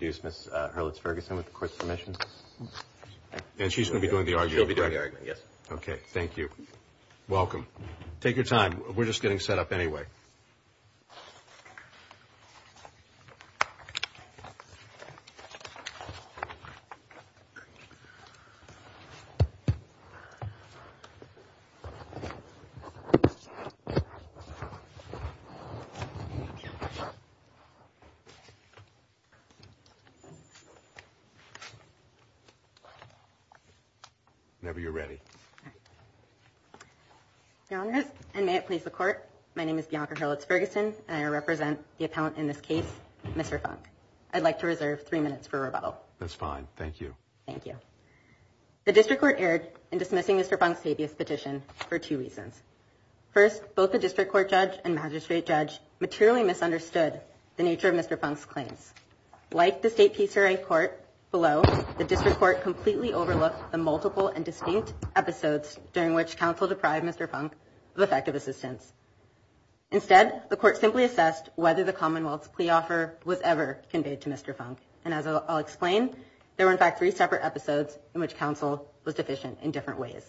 Ms. Hurlitz-Ferguson with the court's permission. And she's going to be doing the argument? She'll be doing the argument, yes. Okay, thank you. Welcome. Take your time. We're just getting set up anyway. Whenever you're ready. Your Honor, and may it please the court, my name is Bianca Hurlitz-Ferguson and I represent the appellant in this case, Mr. Funk. I'd like to reserve three minutes for rebuttal. That's fine. Thank you. Thank you. The district court erred in dismissing Mr. Funk's habeas petition for two reasons. First, both the district court judge and magistrate judge materially misunderstood the nature of Mr. Funk's claims. Like the state PCRA court below, the district court completely overlooked the multiple and distinct episodes during which counsel deprived Mr. Funk of effective assistance. Instead, the court simply assessed whether the Commonwealth's plea offer was ever conveyed to Mr. Funk. And as I'll explain, there were in fact three separate episodes in which counsel was deficient in different ways.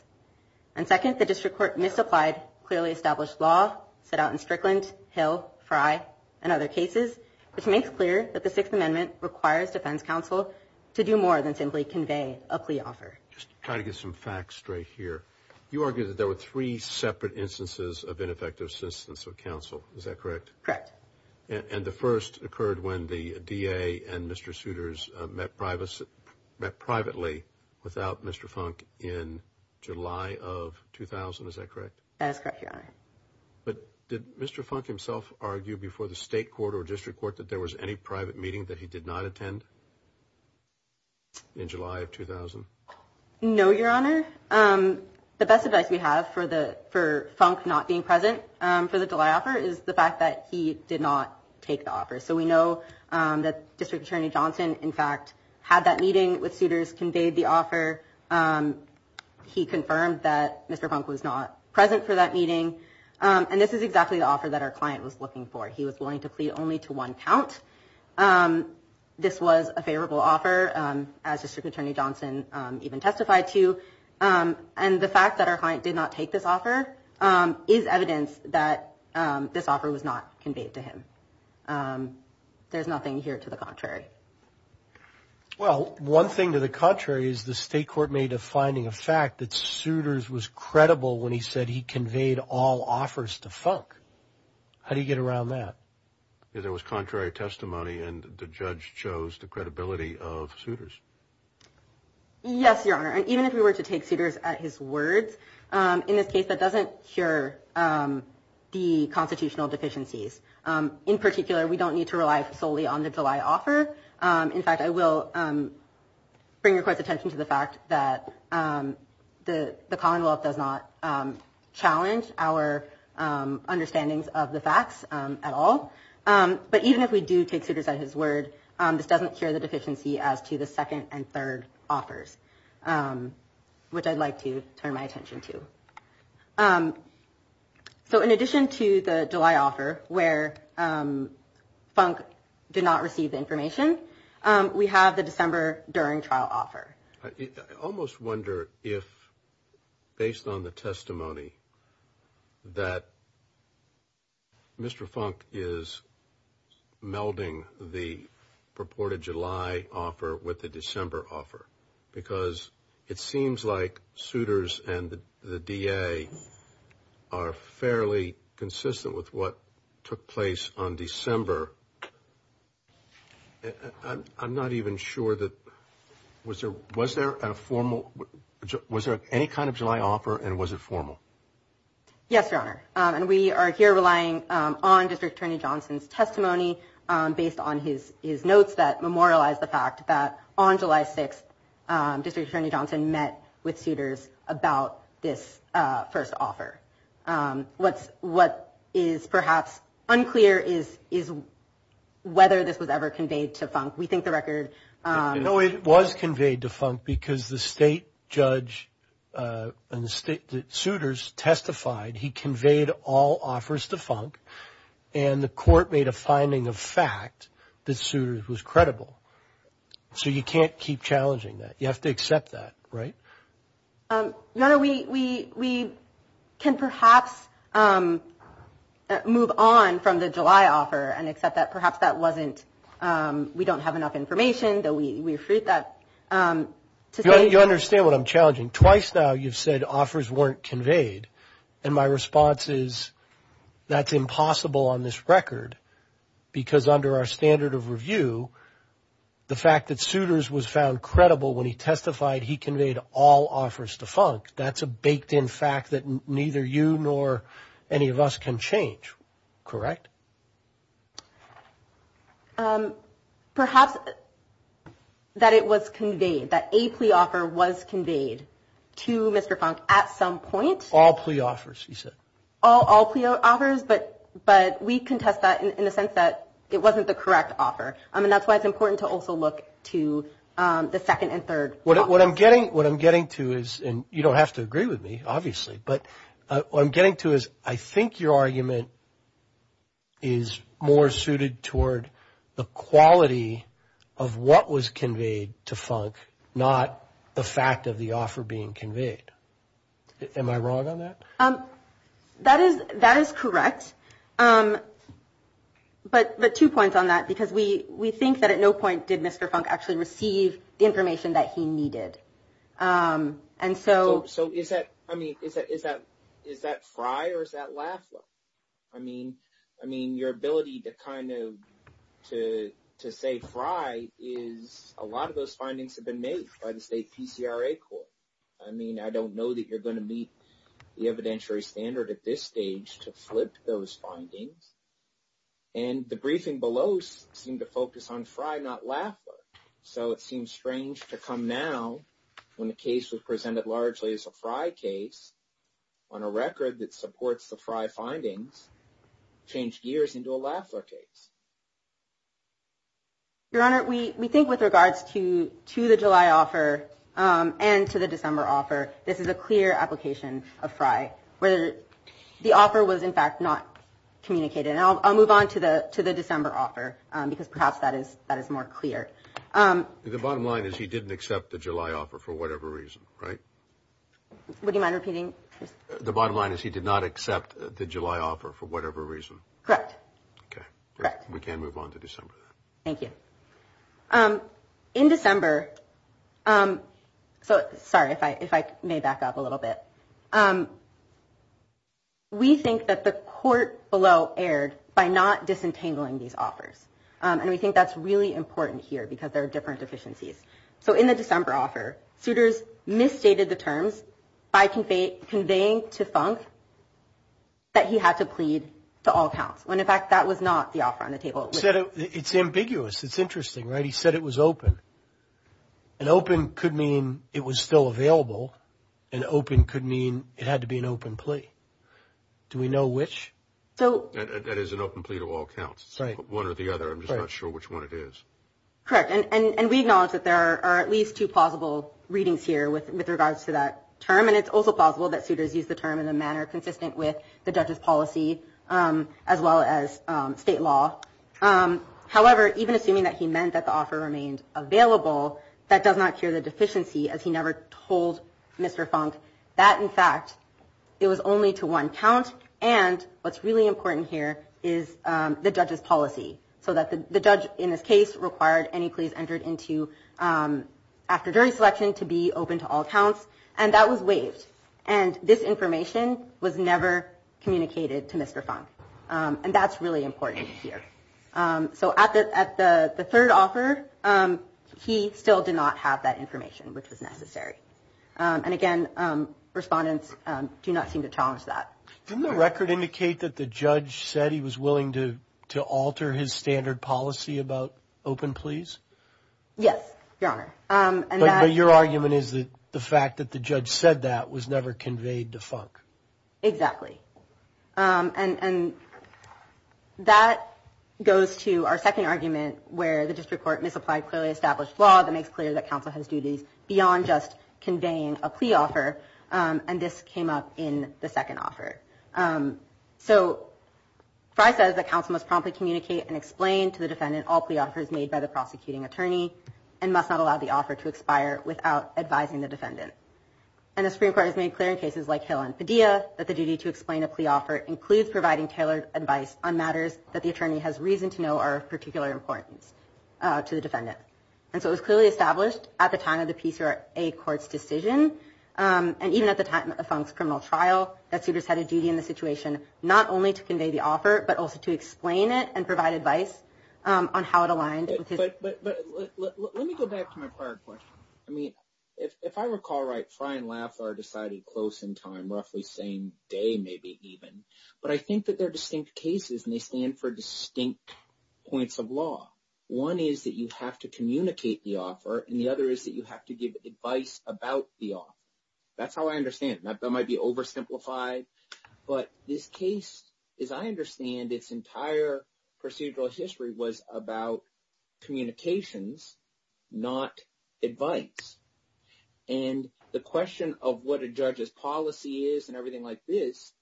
And second, the district court misapplied clearly established law set out in Strickland, Hill, Frye, and other cases, which makes clear that the Sixth Amendment requires defense counsel to do more than simply convey a plea offer. Just trying to get some facts straight here. You argue that there were three separate instances of ineffective assistance of counsel. Is that correct? Correct. And the first occurred when the DA and Mr. Souters met privately without Mr. Funk in July of 2000. Is that correct? That is correct, Your Honor. But did Mr. Funk himself argue before the state court or district court that there was any private meeting that he did not attend in July of 2000? No, Your Honor. The best advice we have for Funk not being present for the July offer is the fact that he did not take the offer. So we know that District Attorney Johnson, in fact, had that meeting with Souters, conveyed the offer. He confirmed that Mr. Funk was not present for that meeting. And this is exactly the offer that our client was looking for. He was willing to plead only to one count. This was a favorable offer, as District Attorney Johnson even testified to. And the fact that our client did not take this offer is evidence that this offer was not conveyed to him. There's nothing here to the contrary. Well, one thing to the contrary is the state court made a finding of fact that Souters was credible when he said he conveyed all offers to Funk. How do you get around that? There was contrary testimony, and the judge chose the credibility of Souters. Yes, Your Honor. And even if we were to take Souters at his words, in this case, that doesn't cure the constitutional deficiencies. In particular, we don't need to rely solely on the July offer. In fact, I will bring your court's attention to the fact that the Commonwealth does not challenge our understandings of the facts at all. But even if we do take Souters at his word, this doesn't cure the deficiency as to the second and third offers, which I'd like to turn my attention to. So in addition to the July offer where Funk did not receive the information, we have the December during trial offer. I almost wonder if, based on the testimony, that Mr. Funk is melding the purported July offer with the December offer, because it seems like Souters and the DA are fairly consistent with what took place on December. I'm not even sure that was there was there a formal was there any kind of July offer and was it formal? Yes, Your Honor. And we are here relying on District Attorney Johnson's testimony based on his his notes that memorialize the fact that on July 6th, District Attorney Johnson met with suitors about this first offer. What's what is perhaps unclear is, is whether this was ever conveyed to Funk. No, it was conveyed to Funk because the state judge and the state suitors testified he conveyed all offers to Funk and the court made a finding of fact that Souters was credible. So you can't keep challenging that. You have to accept that, right? Your Honor, we can perhaps move on from the July offer and accept that perhaps that wasn't, we don't have enough information that we refute that. You understand what I'm challenging. Twice now you've said offers weren't conveyed. And my response is that's impossible on this record because under our standard of review, the fact that Souters was found credible when he testified he conveyed all offers to Funk, that's a baked in fact that neither you nor any of us can change. Correct? Perhaps that it was conveyed, that a plea offer was conveyed to Mr. Funk at some point. All plea offers, you said. All plea offers, but we contest that in the sense that it wasn't the correct offer. And that's why it's important to also look to the second and third. What I'm getting to is, and you don't have to agree with me, obviously, but what I'm getting to is I think your argument is more suited toward the quality of what was conveyed to Funk, not the fact of the offer being conveyed. Am I wrong on that? That is correct. But two points on that, because we think that at no point did Mr. Funk actually receive the information that he needed. And so is that Fry or is that Lafla? I mean, your ability to kind of to say Fry is a lot of those findings have been made by the state PCRA court. I mean, I don't know that you're going to meet the evidentiary standard at this stage to flip those findings. And the briefing below seemed to focus on Fry, not Lafla. So it seems strange to come now when the case was presented largely as a Fry case on a record that supports the Fry findings, change gears into a Lafla case. Your Honor, we think with regards to the July offer and to the December offer, this is a clear application of Fry where the offer was, in fact, not communicated. And I'll move on to the December offer because perhaps that is more clear. The bottom line is he didn't accept the July offer for whatever reason, right? Would you mind repeating? The bottom line is he did not accept the July offer for whatever reason. Correct. We can move on to December. Thank you. In December, so sorry if I may back up a little bit. We think that the court below erred by not disentangling these offers. And we think that's really important here because there are different deficiencies. So in the December offer, suitors misstated the terms by conveying to Funk that he had to plead to all counts. When, in fact, that was not the offer on the table. It's ambiguous. It's interesting, right? He said it was open. An open could mean it was still available. An open could mean it had to be an open plea. Do we know which? That is an open plea to all counts. Right. One or the other. I'm just not sure which one it is. Correct. And we acknowledge that there are at least two plausible readings here with regards to that term. And it's also plausible that suitors used the term in a manner consistent with the judge's policy as well as state law. However, even assuming that he meant that the offer remained available, that does not cure the deficiency, as he never told Mr. Funk that, in fact, it was only to one count. And what's really important here is the judge's policy, so that the judge, in this case, required any pleas entered into after jury selection to be open to all counts. And that was waived. And this information was never communicated to Mr. Funk. And that's really important here. So at the third offer, he still did not have that information, which was necessary. And, again, respondents do not seem to challenge that. Didn't the record indicate that the judge said he was willing to alter his standard policy about open pleas? Yes, Your Honor. But your argument is that the fact that the judge said that was never conveyed to Funk. Exactly. And that goes to our second argument where the district court misapplied clearly established law that makes clear that counsel has duties beyond just conveying a plea offer. And this came up in the second offer. So Frye says that counsel must promptly communicate and explain to the defendant all plea offers made by the prosecuting attorney and must not allow the offer to expire without advising the defendant. And the Supreme Court has made clear in cases like Hill and Padilla that the duty to explain a plea offer includes providing tailored advice on matters that the attorney has reason to know are of particular importance to the defendant. And so it was clearly established at the time of the PCRA court's decision, and even at the time of Funk's criminal trial, that suitors had a duty in the situation not only to convey the offer, but also to explain it and provide advice on how it aligned. But let me go back to my prior question. I mean, if I recall right, Frye and Laffer decided close in time, roughly same day maybe even. But I think that they're distinct cases, and they stand for distinct points of law. One is that you have to communicate the offer, and the other is that you have to give advice about the offer. That's how I understand it. That might be oversimplified. But this case, as I understand, its entire procedural history was about communications, not advice. And the question of what a judge's policy is and everything like this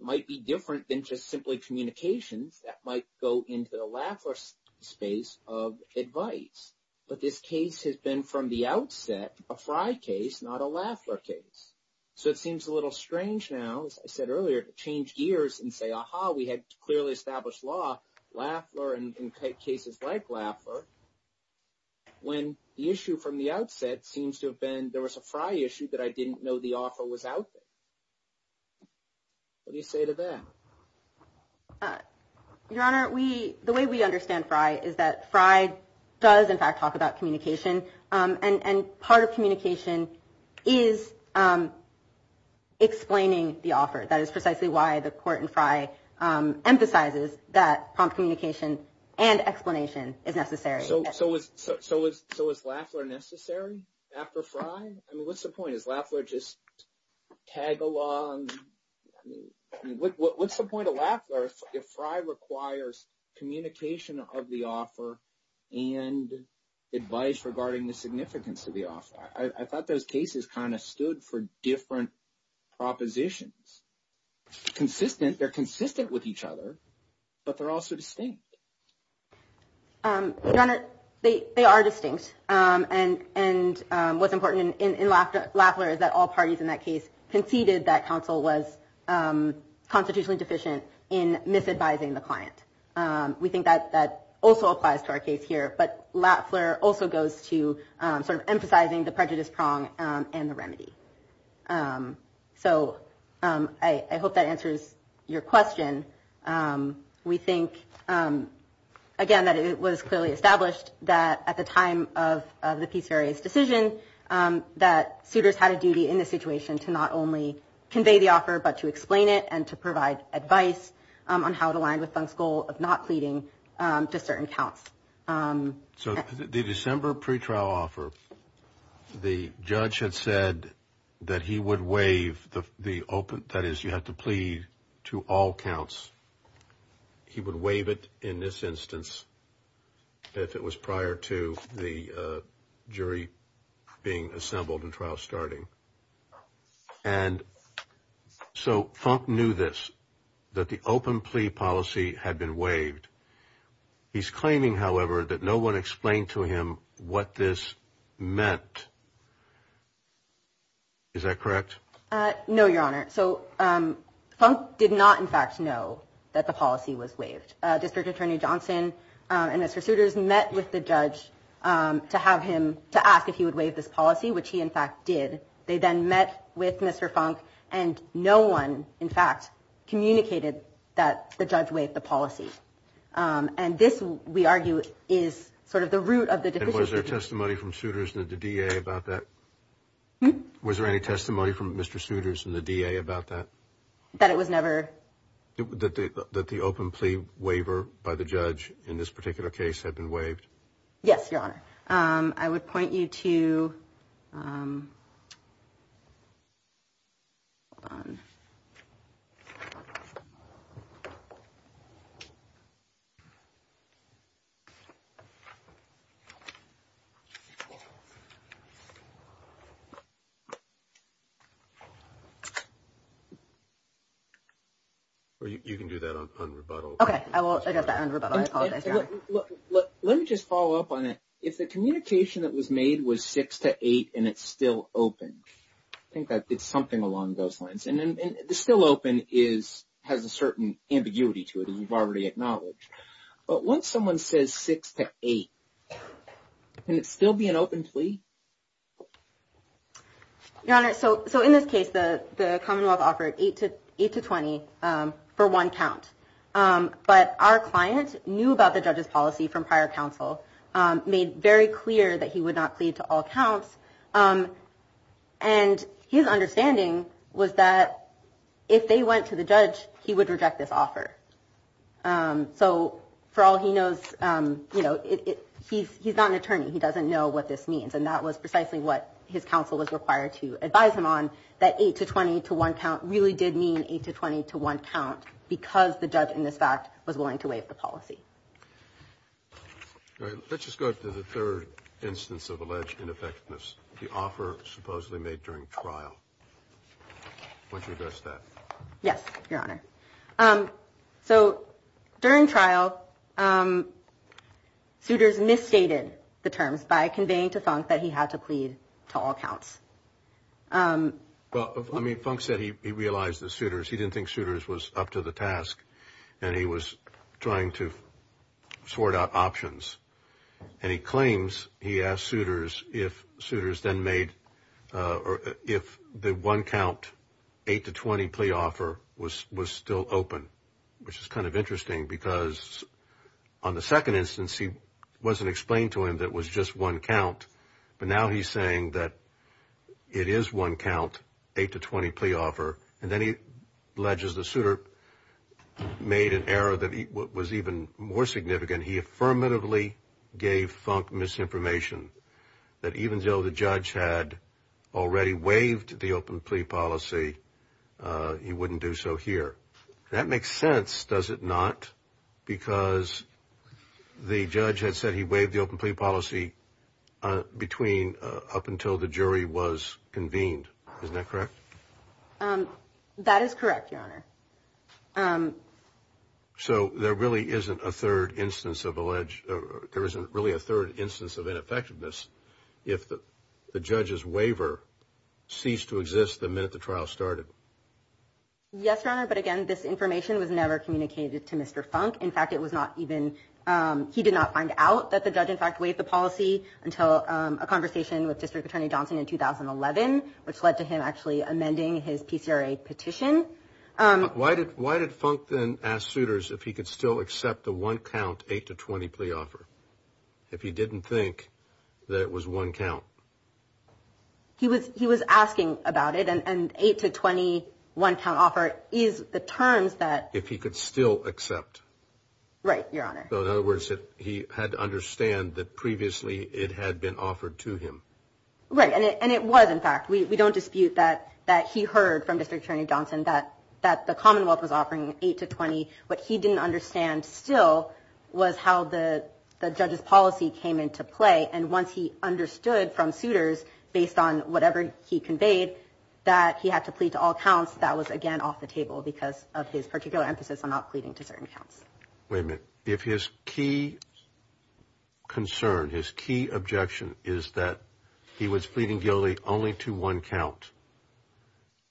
might be different than just simply communications. That might go into the Laffer space of advice. But this case has been from the outset a Frye case, not a Laffer case. So it seems a little strange now, as I said earlier, to change gears and say, aha, we had clearly established law, Laffer, and cases like Laffer, when the issue from the outset seems to have been there was a Frye issue that I didn't know the offer was out there. What do you say to that? Your Honor, we the way we understand Frye is that Frye does, in fact, talk about communication. And part of communication is explaining the offer. That is precisely why the court in Frye emphasizes that communication and explanation is necessary. So, so is so is so is Laffer necessary after Frye? I mean, what's the point is Laffer just tag along? What's the point of Laffer if Frye requires communication of the offer and advice regarding the significance of the offer? I thought those cases kind of stood for different propositions. Consistent, they're consistent with each other, but they're also distinct. Your Honor, they are distinct. And what's important in Laffer is that all parties in that case conceded that counsel was constitutionally deficient in misadvising the client. We think that that also applies to our case here. But Laffer also goes to sort of emphasizing the prejudice prong and the remedy. So I hope that answers your question. We think, again, that it was clearly established that at the time of the piece various decision, that suitors had a duty in this situation to not only convey the offer, but to explain it and to provide advice on how to align with Fung's goal of not pleading to certain counts. So the December pretrial offer, the judge had said that he would waive the open. That is, you have to plead to all counts. He would waive it in this instance if it was prior to the jury being assembled and trial starting. And so Fung knew this, that the open plea policy had been waived. He's claiming, however, that no one explained to him what this meant. Is that correct? No, Your Honor. So Fung did not, in fact, know that the policy was waived. District Attorney Johnson and Mr. Suitors met with the judge to have him to ask if he would waive this policy, which he, in fact, did. They then met with Mr. Fung, and no one, in fact, communicated that the judge waived the policy. And this, we argue, is sort of the root of the deficiency. And was there testimony from Suitors and the DA about that? Was there any testimony from Mr. Suitors and the DA about that? That it was never. That the open plea waiver by the judge in this particular case had been waived? Yes, Your Honor. I would point you to. You can do that on rebuttal. Okay. I apologize. Let me just follow up on it. If the communication that was made was 6 to 8 and it's still open, I think that did something along those lines. And the still open has a certain ambiguity to it, as you've already acknowledged. But once someone says 6 to 8, can it still be an open plea? Your Honor, so in this case, the Commonwealth offered 8 to 20 for one count. But our client knew about the judge's policy from prior counsel, made very clear that he would not plead to all counts. And his understanding was that if they went to the judge, he would reject this offer. So for all he knows, he's not an attorney. He doesn't know what this means. And that was precisely what his counsel was required to advise him on, that 8 to 20 to one count really did mean 8 to 20 to one count because the judge in this fact was willing to waive the policy. All right. Let's just go to the third instance of alleged ineffectiveness, the offer supposedly made during trial. Why don't you address that? Yes, Your Honor. So during trial, Souters misstated the terms by conveying to Funk that he had to plead to all counts. Well, I mean, Funk said he realized that Souters, he didn't think Souters was up to the task and he was trying to sort out options. And he claims he asked Souters if Souters then made, if the one count 8 to 20 plea offer was still open, which is kind of interesting because on the second instance, he wasn't explained to him that it was just one count. But now he's saying that it is one count, 8 to 20 plea offer. And then he alleges that Souters made an error that was even more significant. He affirmatively gave Funk misinformation that even though the judge had already waived the open plea policy, he wouldn't do so here. That makes sense, does it not? Because the judge had said he waived the open plea policy between up until the jury was convened. Isn't that correct? That is correct, Your Honor. So there really isn't a third instance of alleged, there isn't really a third instance of ineffectiveness if the judge's waiver ceased to exist the minute the trial started? Yes, Your Honor, but again, this information was never communicated to Mr. Funk. In fact, it was not even, he did not find out that the judge in fact waived the policy until a conversation with District Attorney Johnson in 2011, which led to him actually amending his PCRA petition. Why did Funk then ask Souters if he could still accept the one count 8 to 20 plea offer if he didn't think that it was one count? He was asking about it, and 8 to 20 one count offer is the terms that... If he could still accept. Right, Your Honor. So in other words, he had to understand that previously it had been offered to him. Right, and it was in fact. We don't dispute that he heard from District Attorney Johnson that the Commonwealth was offering 8 to 20. What he didn't understand still was how the judge's policy came into play, and once he understood from Souters, based on whatever he conveyed, that he had to plead to all counts, that was again off the table because of his particular emphasis on not pleading to certain counts. Wait a minute. If his key concern, his key objection is that he was pleading guilty only to one count,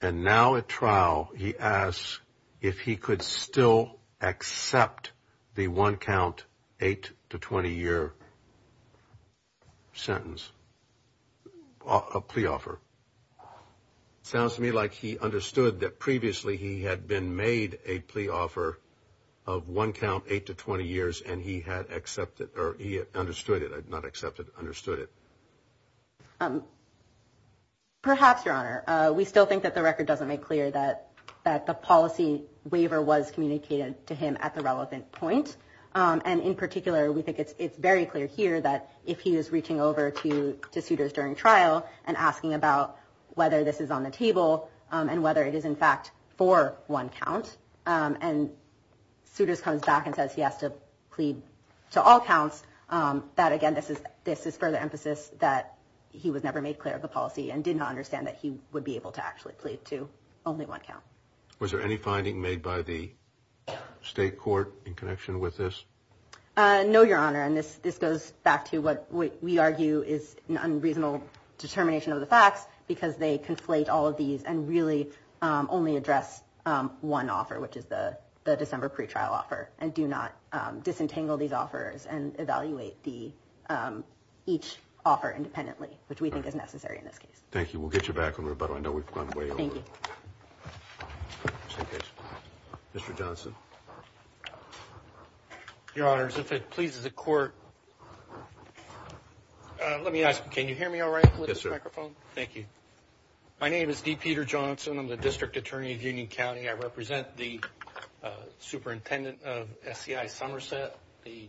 and now at trial he asks if he could still accept the one count 8 to 20 year sentence, a plea offer. It sounds to me like he understood that previously he had been made a plea offer of one count 8 to 20 years, and he had accepted or he understood it, not accepted, understood it. Perhaps, Your Honor. We still think that the record doesn't make clear that the policy waiver was communicated to him at the relevant point, and in particular we think it's very clear here that if he is reaching over to Souters during trial and asking about whether this is on the table and whether it is in fact for one count, and Souters comes back and says he has to plead to all counts, that again this is further emphasis that he was never made clear of the policy and did not understand that he would be able to actually plead to only one count. Was there any finding made by the state court in connection with this? No, Your Honor, and this goes back to what we argue is an unreasonable determination of the facts because they conflate all of these and really only address one offer, which is the December pretrial offer, and do not disentangle these offers and evaluate each offer independently, which we think is necessary in this case. Thank you. We'll get you back on rebuttal. I know we've gone way over. Thank you. Mr. Johnson. Your Honors, if it pleases the court, let me ask, can you hear me all right with this microphone? Yes, sir. Thank you. My name is D. Peter Johnson. I'm the district attorney of Union County. I represent the superintendent of SCI Somerset, the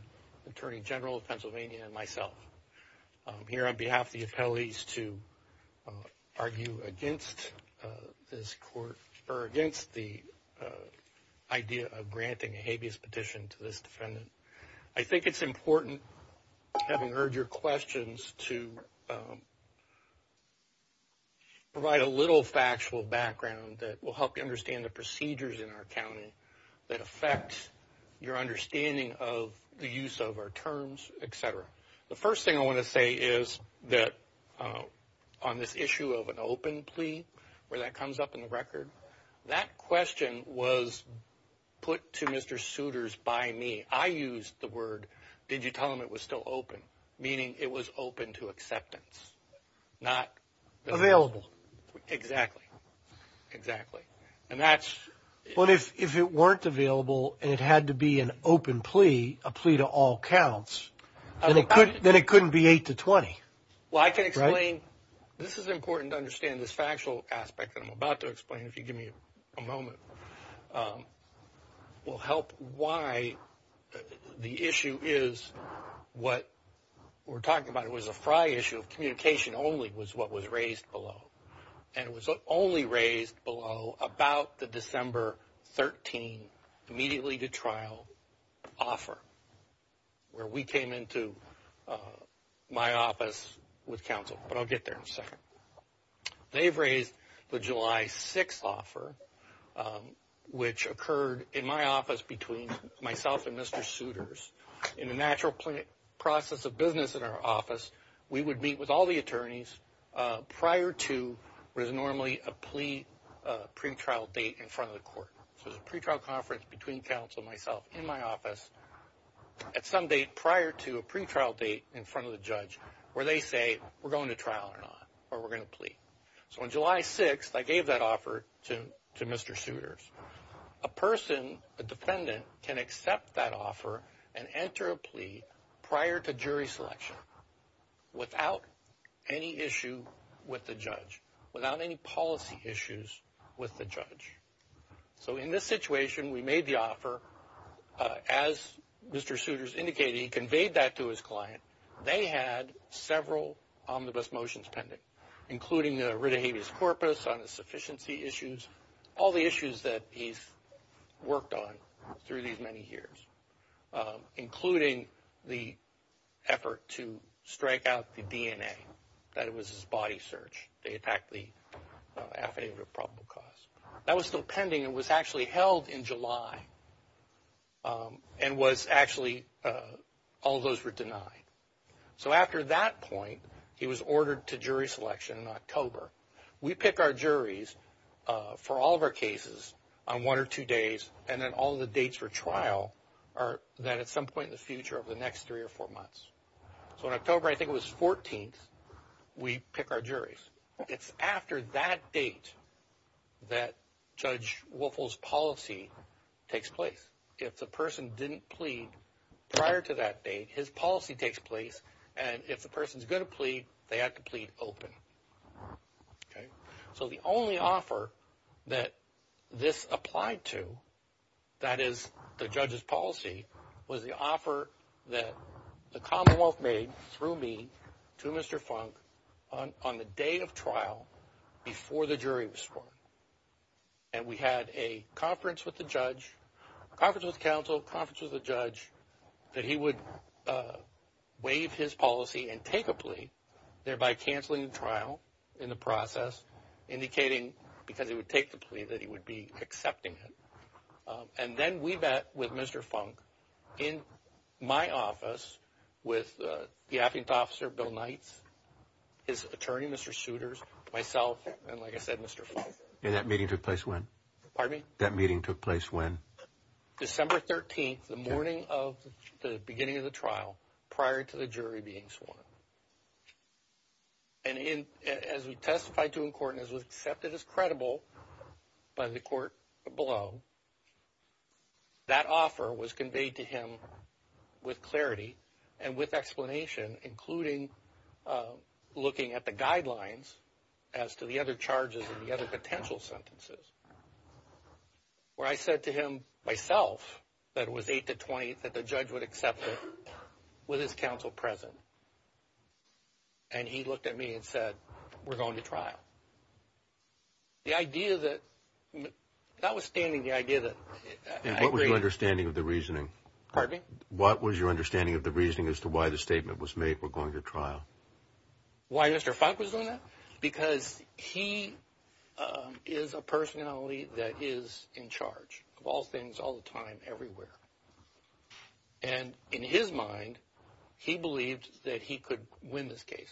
attorney general of Pennsylvania, and myself. I'm here on behalf of the appellees to argue against this court, or against the idea of granting a habeas petition to this defendant. I think it's important, having heard your questions, to provide a little factual background that will help you understand the procedures in our county that affect your understanding of the use of our terms, et cetera. The first thing I want to say is that on this issue of an open plea, where that comes up in the record, that question was put to Mr. Souters by me. I used the word, did you tell him it was still open, meaning it was open to acceptance. Available. Exactly. Exactly. Well, if it weren't available and it had to be an open plea, a plea to all counts, then it couldn't be 8 to 20. Well, I can explain. This is important to understand. This factual aspect that I'm about to explain, if you give me a moment, will help why the issue is what we're talking about. It was a fry issue. Communication only was what was raised below. And it was only raised below about the December 13 immediately to trial offer, where we came into my office with counsel. But I'll get there in a second. They've raised the July 6 offer, which occurred in my office between myself and Mr. Souters. In the natural process of business in our office, we would meet with all the attorneys prior to what is normally a plea pretrial date in front of the court. So it was a pretrial conference between counsel and myself in my office at some date prior to a pretrial date in front of the judge, where they say, we're going to trial or not, or we're going to plea. So on July 6, I gave that offer to Mr. Souters. A person, a defendant, can accept that offer and enter a plea prior to jury selection without any issue with the judge, without any policy issues with the judge. So in this situation, we made the offer. As Mr. Souters indicated, he conveyed that to his client. They had several omnibus motions pending, including the writ of habeas corpus on the sufficiency issues, all the issues that he's worked on through these many years, including the effort to strike out the DNA. That was his body search. They attacked the affidavit of probable cause. That was still pending. It was actually held in July and was actually, all those were denied. So after that point, he was ordered to jury selection in October. We pick our juries for all of our cases on one or two days, and then all the dates for trial are then at some point in the future over the next three or four months. So in October, I think it was 14th, we pick our juries. It's after that date that Judge Wolfel's policy takes place. If the person didn't plead prior to that date, his policy takes place, and if the person's going to plead, they have to plead open. So the only offer that this applied to, that is the judge's policy, was the offer that the Commonwealth made through me to Mr. Funk on the day of trial before the jury was sworn. And we had a conference with the judge, a conference with counsel, a conference with the judge, that he would waive his policy and take a plea, thereby canceling the trial in the process, indicating because he would take the plea that he would be accepting it. And then we met with Mr. Funk in my office with the affidavit officer, Bill Knights, his attorney, Mr. Souters, myself, and, like I said, Mr. Funk. And that meeting took place when? Pardon me? That meeting took place when? December 13th, the morning of the beginning of the trial, prior to the jury being sworn. And as we testified to in court and as was accepted as credible by the court below, that offer was conveyed to him with clarity and with explanation, including looking at the guidelines as to the other charges and the other potential sentences. Where I said to him, myself, that it was 8 to 20, that the judge would accept it with his counsel present. And he looked at me and said, we're going to trial. The idea that, notwithstanding the idea that... And what was your understanding of the reasoning? Pardon me? What was your understanding of the reasoning as to why the statement was made, we're going to trial? Why Mr. Funk was doing that? Because he is a personality that is in charge of all things, all the time, everywhere. And in his mind, he believed that he could win this case.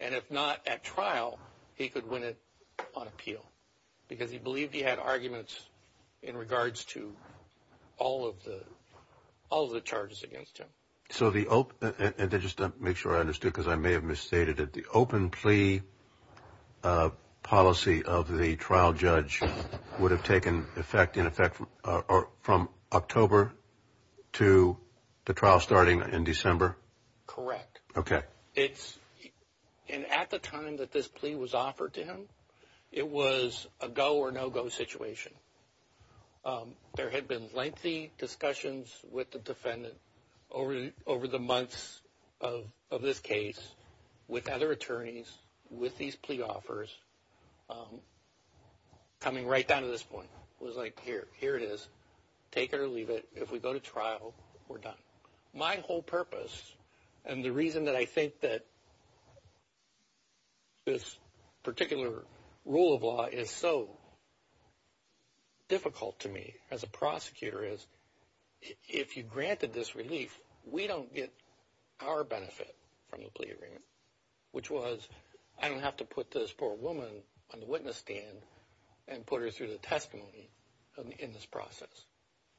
And if not at trial, he could win it on appeal. Because he believed he had arguments in regards to all of the charges against him. And just to make sure I understood, because I may have misstated it, the open plea policy of the trial judge would have taken effect in effect from October to the trial starting in December? Correct. Okay. And at the time that this plea was offered to him, it was a go or no-go situation. There had been lengthy discussions with the defendant over the months of this case with other attorneys, with these plea offers, coming right down to this point. It was like, here it is. Take it or leave it. If we go to trial, we're done. My whole purpose and the reason that I think that this particular rule of law is so difficult to me as a prosecutor is, if you granted this relief, we don't get our benefit from the plea agreement, which was, I don't have to put this poor woman on the witness stand and put her through the testimony in this process.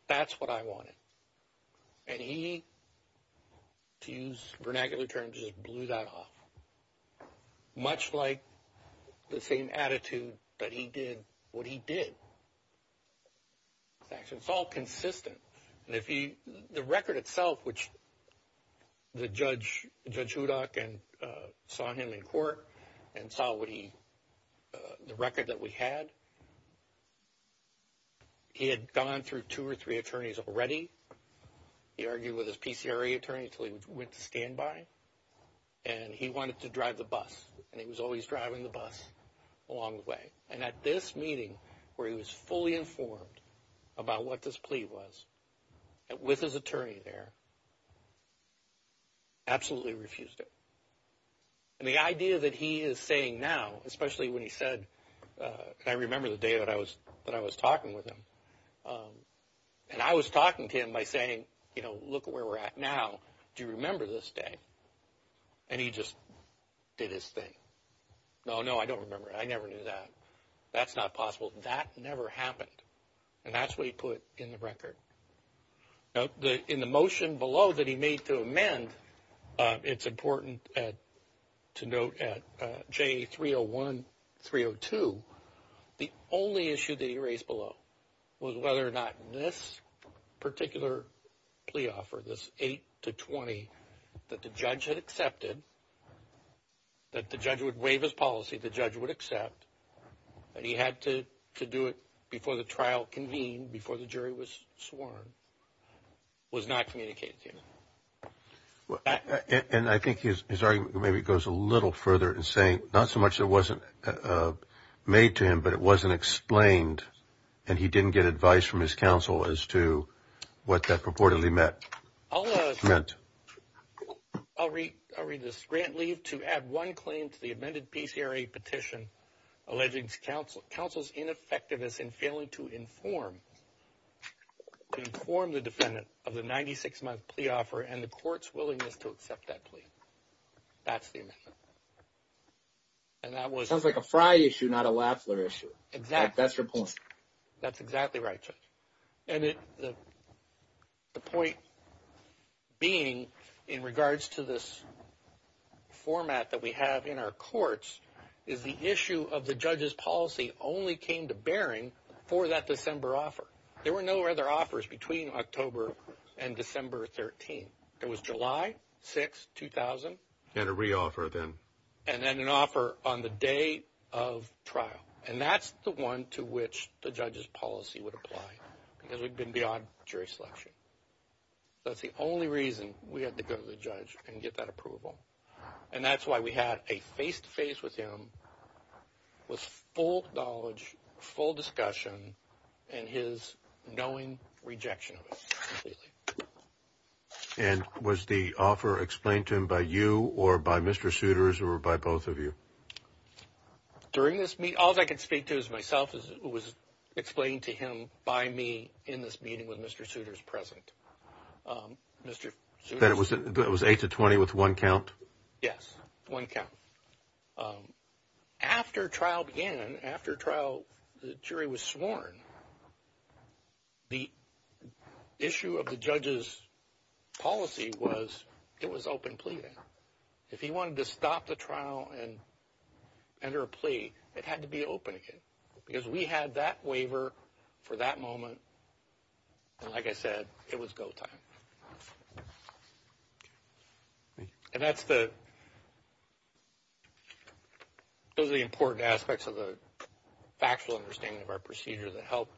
That's what I wanted. And he, to use vernacular terms, just blew that off. Much like the same attitude that he did what he did. It's all consistent. The record itself, which the Judge Hudock saw him in court and saw the record that we had, he had gone through two or three attorneys already. He argued with his PCRA attorney until he went to standby. And he wanted to drive the bus. And he was always driving the bus along the way. And at this meeting, where he was fully informed about what this plea was, with his attorney there, absolutely refused it. And the idea that he is saying now, especially when he said, I remember the day that I was talking with him. And I was talking to him by saying, you know, look where we're at now. Do you remember this day? And he just did his thing. No, no, I don't remember. I never knew that. That's not possible. That never happened. And that's what he put in the record. In the motion below that he made to amend, it's important to note at J301, 302, the only issue that he raised below was whether or not this particular plea offer, this 8 to 20, that the Judge had accepted, that the Judge would waive his policy, the Judge would accept, that he had to do it before the trial convened, before the jury was sworn, was not communicated to him. And I think his argument maybe goes a little further in saying not so much that it wasn't made to him, but it wasn't explained and he didn't get advice from his counsel as to what that purportedly meant. I'll read this. Grant leave to add one claim to the amended PCRA petition alleging counsel's ineffectiveness in failing to inform the defendant of the 96-month plea offer and the court's willingness to accept that plea. That's the amendment. Sounds like a Frye issue, not a Lafler issue. Exactly. That's your point. That's exactly right, Judge. And the point being in regards to this format that we have in our courts is the issue of the Judge's policy only came to bearing for that December offer. There were no other offers between October and December 13. It was July 6, 2000. And a reoffer then. And then an offer on the day of trial. And that's the one to which the Judge's policy would apply because we'd been beyond jury selection. That's the only reason we had to go to the Judge and get that approval. And that's why we had a face-to-face with him with full knowledge, full discussion, and his knowing rejection of it completely. And was the offer explained to him by you or by Mr. Suitors or by both of you? During this meeting, all I could speak to was myself. It was explained to him by me in this meeting with Mr. Suitors present. That it was 8 to 20 with one count? Yes, one count. After trial began, after trial, the jury was sworn, the issue of the Judge's policy was it was open pleading. If he wanted to stop the trial and enter a plea, it had to be open again. Because we had that waiver for that moment. And like I said, it was go time. And that's the important aspects of the factual understanding of our procedure that help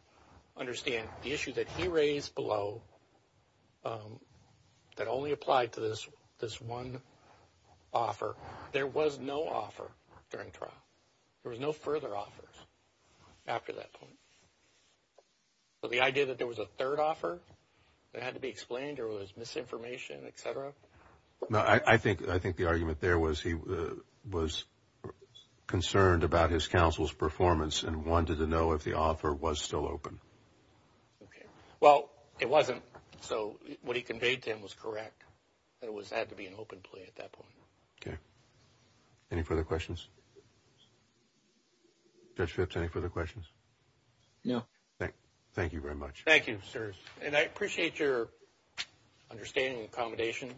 understand the issue that he raised below that only applied to this one offer. There was no offer during trial. There was no further offers after that point. So the idea that there was a third offer that had to be explained or there was misinformation, et cetera? No, I think the argument there was he was concerned about his counsel's performance and wanted to know if the offer was still open. Well, it wasn't. So what he conveyed to him was correct. It had to be an open plea at that point. Okay. Any further questions? Judge Phipps, any further questions? No. Thank you very much. Thank you, sir. And I appreciate your understanding and accommodation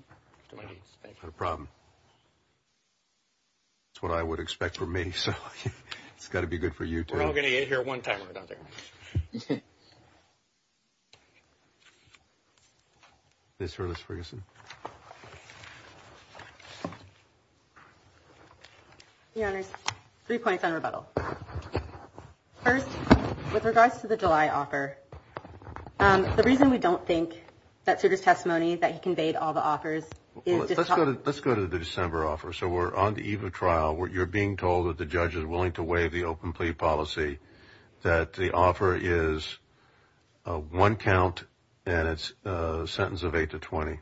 to my needs. Not a problem. That's what I would expect from me, so it's got to be good for you too. We're all going to get here one time or another. Ms. Ferguson. Your Honors, three points on rebuttal. First, with regards to the July offer, the reason we don't think that Sugar's testimony, that he conveyed all the offers is just to help. Let's go to the December offer. So we're on the eve of trial. You're being told that the judge is willing to waive the open plea policy, that the offer is a one count and it's a sentence of eight to 20.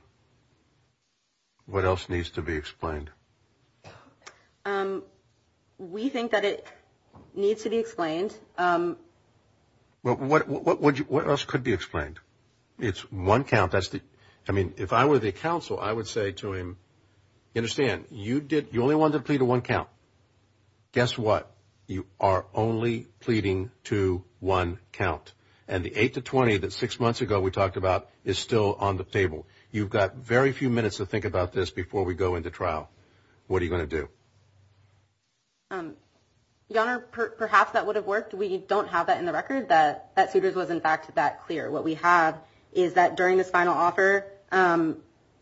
What else needs to be explained? We think that it needs to be explained. What else could be explained? It's one count. I mean, if I were the counsel, I would say to him, understand, you only wanted to plead a one count. Guess what? You are only pleading to one count. And the eight to 20 that six months ago we talked about is still on the table. You've got very few minutes to think about this before we go into trial. What are you going to do? Your Honor, perhaps that would have worked. We don't have that in the record, that Sugar's was, in fact, that clear. What we have is that during this final offer,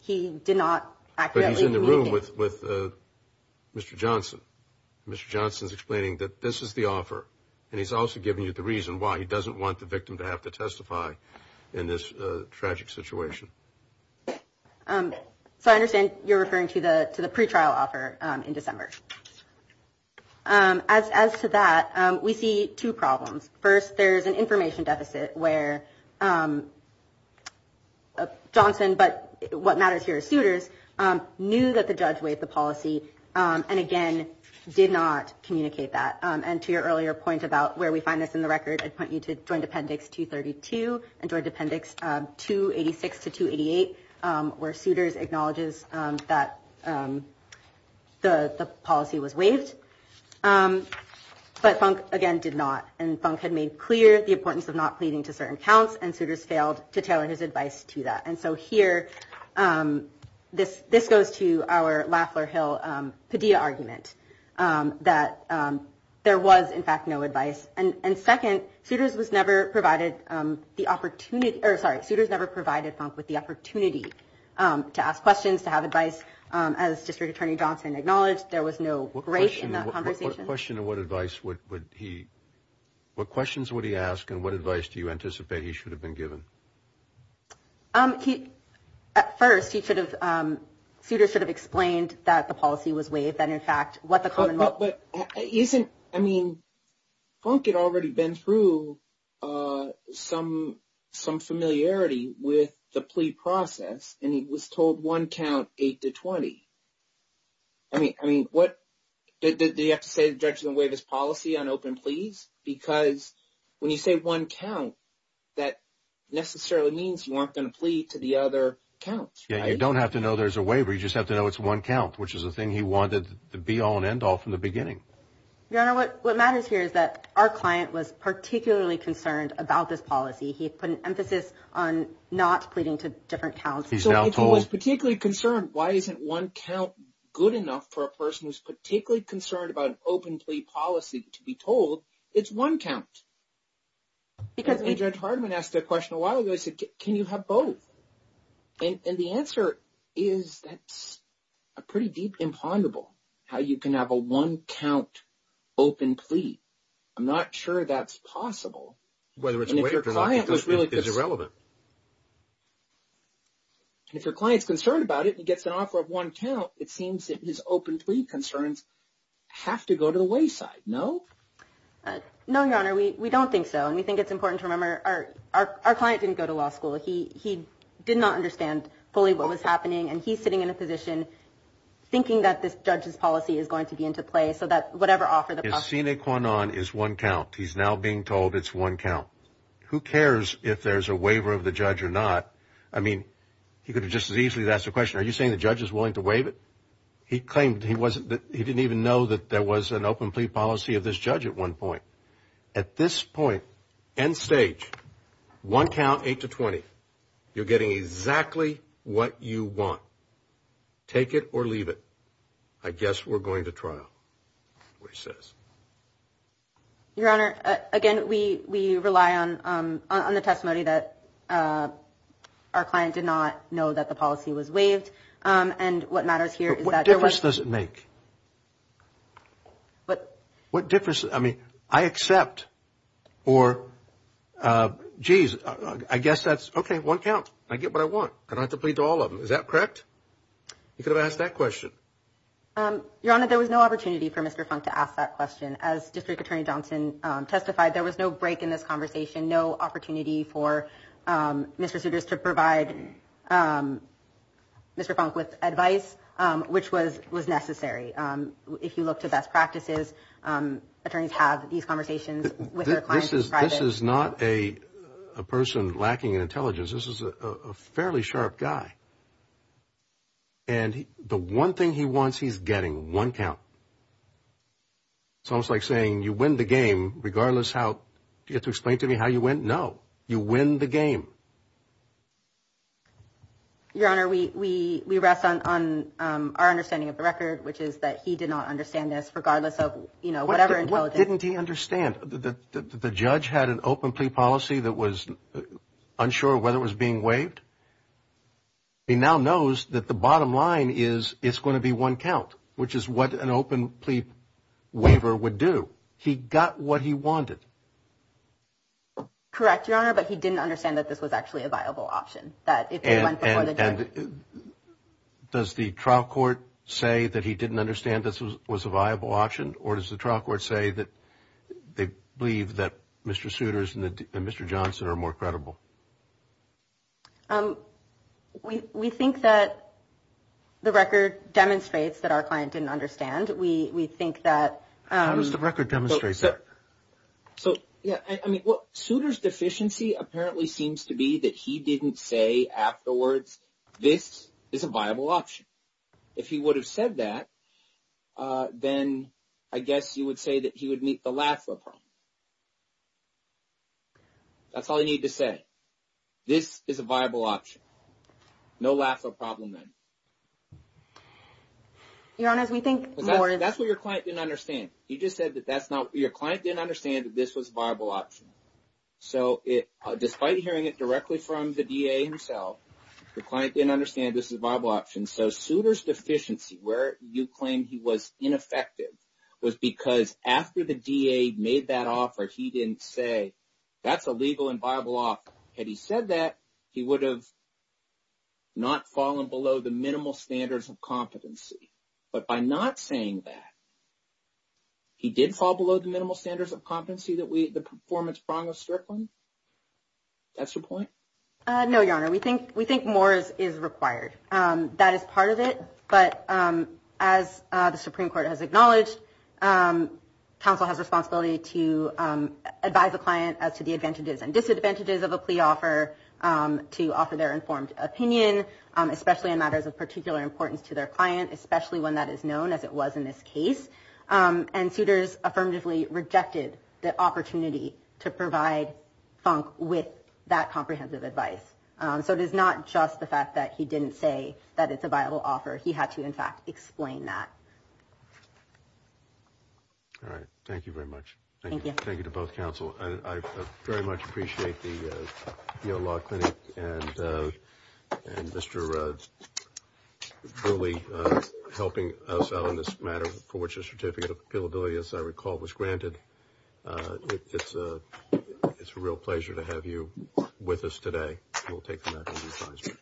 he did not accurately. But he's in the room with Mr. Johnson. Mr. Johnson's explaining that this is the offer, and he's also giving you the reason why. He doesn't want the victim to have to testify in this tragic situation. So I understand you're referring to the pretrial offer in December. As to that, we see two problems. First, there is an information deficit where Johnson, but what matters here is Souters, knew that the judge waived the policy and, again, did not communicate that. And to your earlier point about where we find this in the record, I'd point you to Joint Appendix 232 and Joint Appendix 286 to 288, where Souters acknowledges that the policy was waived, but Funk, again, did not. And Funk had made clear the importance of not pleading to certain counts, and Souters failed to tailor his advice to that. And so here, this goes to our Lafleur Hill Padilla argument that there was, in fact, no advice. And, second, Souters was never provided the opportunity or, sorry, Souters never provided Funk with the opportunity to ask questions, to have advice. As District Attorney Johnson acknowledged, there was no break in that conversation. What question and what advice would he – what questions would he ask and what advice do you anticipate he should have been given? At first, he should have – Souters should have explained that the policy was waived and, in fact, what the common – But isn't – I mean, Funk had already been through some familiarity with the plea process, and he was told one count, eight to 20. I mean, what – do you have to say the judge didn't waive his policy on open pleas? Because when you say one count, that necessarily means you aren't going to plea to the other counts, right? Yeah, you don't have to know there's a waiver. You just have to know it's one count, which is the thing he wanted to be all and end all from the beginning. Your Honor, what matters here is that our client was particularly concerned about this policy. He put an emphasis on not pleading to different counts. He's now told – So if he was particularly concerned, why isn't one count good enough for a person who's particularly concerned about an open plea policy to be told, it's one count. Because when Judge Hardiman asked that question a while ago, he said, can you have both? And the answer is that's a pretty deep imponderable, how you can have a one-count open plea. I'm not sure that's possible. And if your client is concerned about it and he gets an offer of one count, it seems that his open plea concerns have to go to the wayside, no? No, Your Honor, we don't think so. And we think it's important to remember our client didn't go to law school. He did not understand fully what was happening. And he's sitting in a position thinking that this judge's policy is going to be into play so that whatever offer – Vaccine Quanon is one count. He's now being told it's one count. Who cares if there's a waiver of the judge or not? I mean, he could have just as easily asked the question, are you saying the judge is willing to waive it? He claimed he didn't even know that there was an open plea policy of this judge at one point. At this point, end stage, one count, 8 to 20. You're getting exactly what you want. Take it or leave it. I guess we're going to trial, which says. Your Honor, again, we rely on the testimony that our client did not know that the policy was waived. And what matters here is that there was – But what difference does it make? What difference – I mean, I accept or, geez, I guess that's – okay, one count. I get what I want. I don't have to plead to all of them. Is that correct? You could have asked that question. Your Honor, there was no opportunity for Mr. Funk to ask that question. As District Attorney Johnson testified, there was no break in this conversation, no opportunity for Mr. Souters to provide Mr. Funk with advice, which was necessary. If you look to best practices, attorneys have these conversations with their clients in private. This is not a person lacking in intelligence. This is a fairly sharp guy. And the one thing he wants, he's getting one count. It's almost like saying you win the game regardless how – do you have to explain to me how you win? No. You win the game. Your Honor, we rest on our understanding of the record, which is that he did not understand this regardless of, you know, whatever intelligence – What didn't he understand? The judge had an open plea policy that was unsure whether it was being waived. He now knows that the bottom line is it's going to be one count, which is what an open plea waiver would do. He got what he wanted. Correct, Your Honor, but he didn't understand that this was actually a viable option. And does the trial court say that he didn't understand this was a viable option, or does the trial court say that they believe that Mr. Souter's and Mr. Johnson are more credible? We think that the record demonstrates that our client didn't understand. We think that – How does the record demonstrate that? So, yeah, I mean, Souter's deficiency apparently seems to be that he didn't say afterwards this is a viable option. If he would have said that, then I guess you would say that he would meet the LAFRA problem. That's all I need to say. This is a viable option. No LAFRA problem then. Your Honor, we think more – That's what your client didn't understand. He just said that that's not – your client didn't understand that this was a viable option. So, despite hearing it directly from the DA himself, the client didn't understand this is a viable option. And so Souter's deficiency, where you claim he was ineffective, was because after the DA made that offer, he didn't say that's a legal and viable offer. Had he said that, he would have not fallen below the minimal standards of competency. But by not saying that, he did fall below the minimal standards of competency that we – the performance prong of Strickland? That's your point? No, Your Honor. We think more is required. That is part of it. But as the Supreme Court has acknowledged, counsel has a responsibility to advise the client as to the advantages and disadvantages of a plea offer to offer their informed opinion, especially in matters of particular importance to their client, especially when that is known, as it was in this case. And Souter's affirmatively rejected the opportunity to provide Funk with that comprehensive advice. So it is not just the fact that he didn't say that it's a viable offer. He had to, in fact, explain that. All right. Thank you very much. Thank you. Thank you to both counsel. I very much appreciate the Yale Law Clinic and Mr. Burley helping us out on this matter, for which a certificate of appealability, as I recall, was granted. It's a real pleasure to have you with us today. We'll take the matter to the advisory.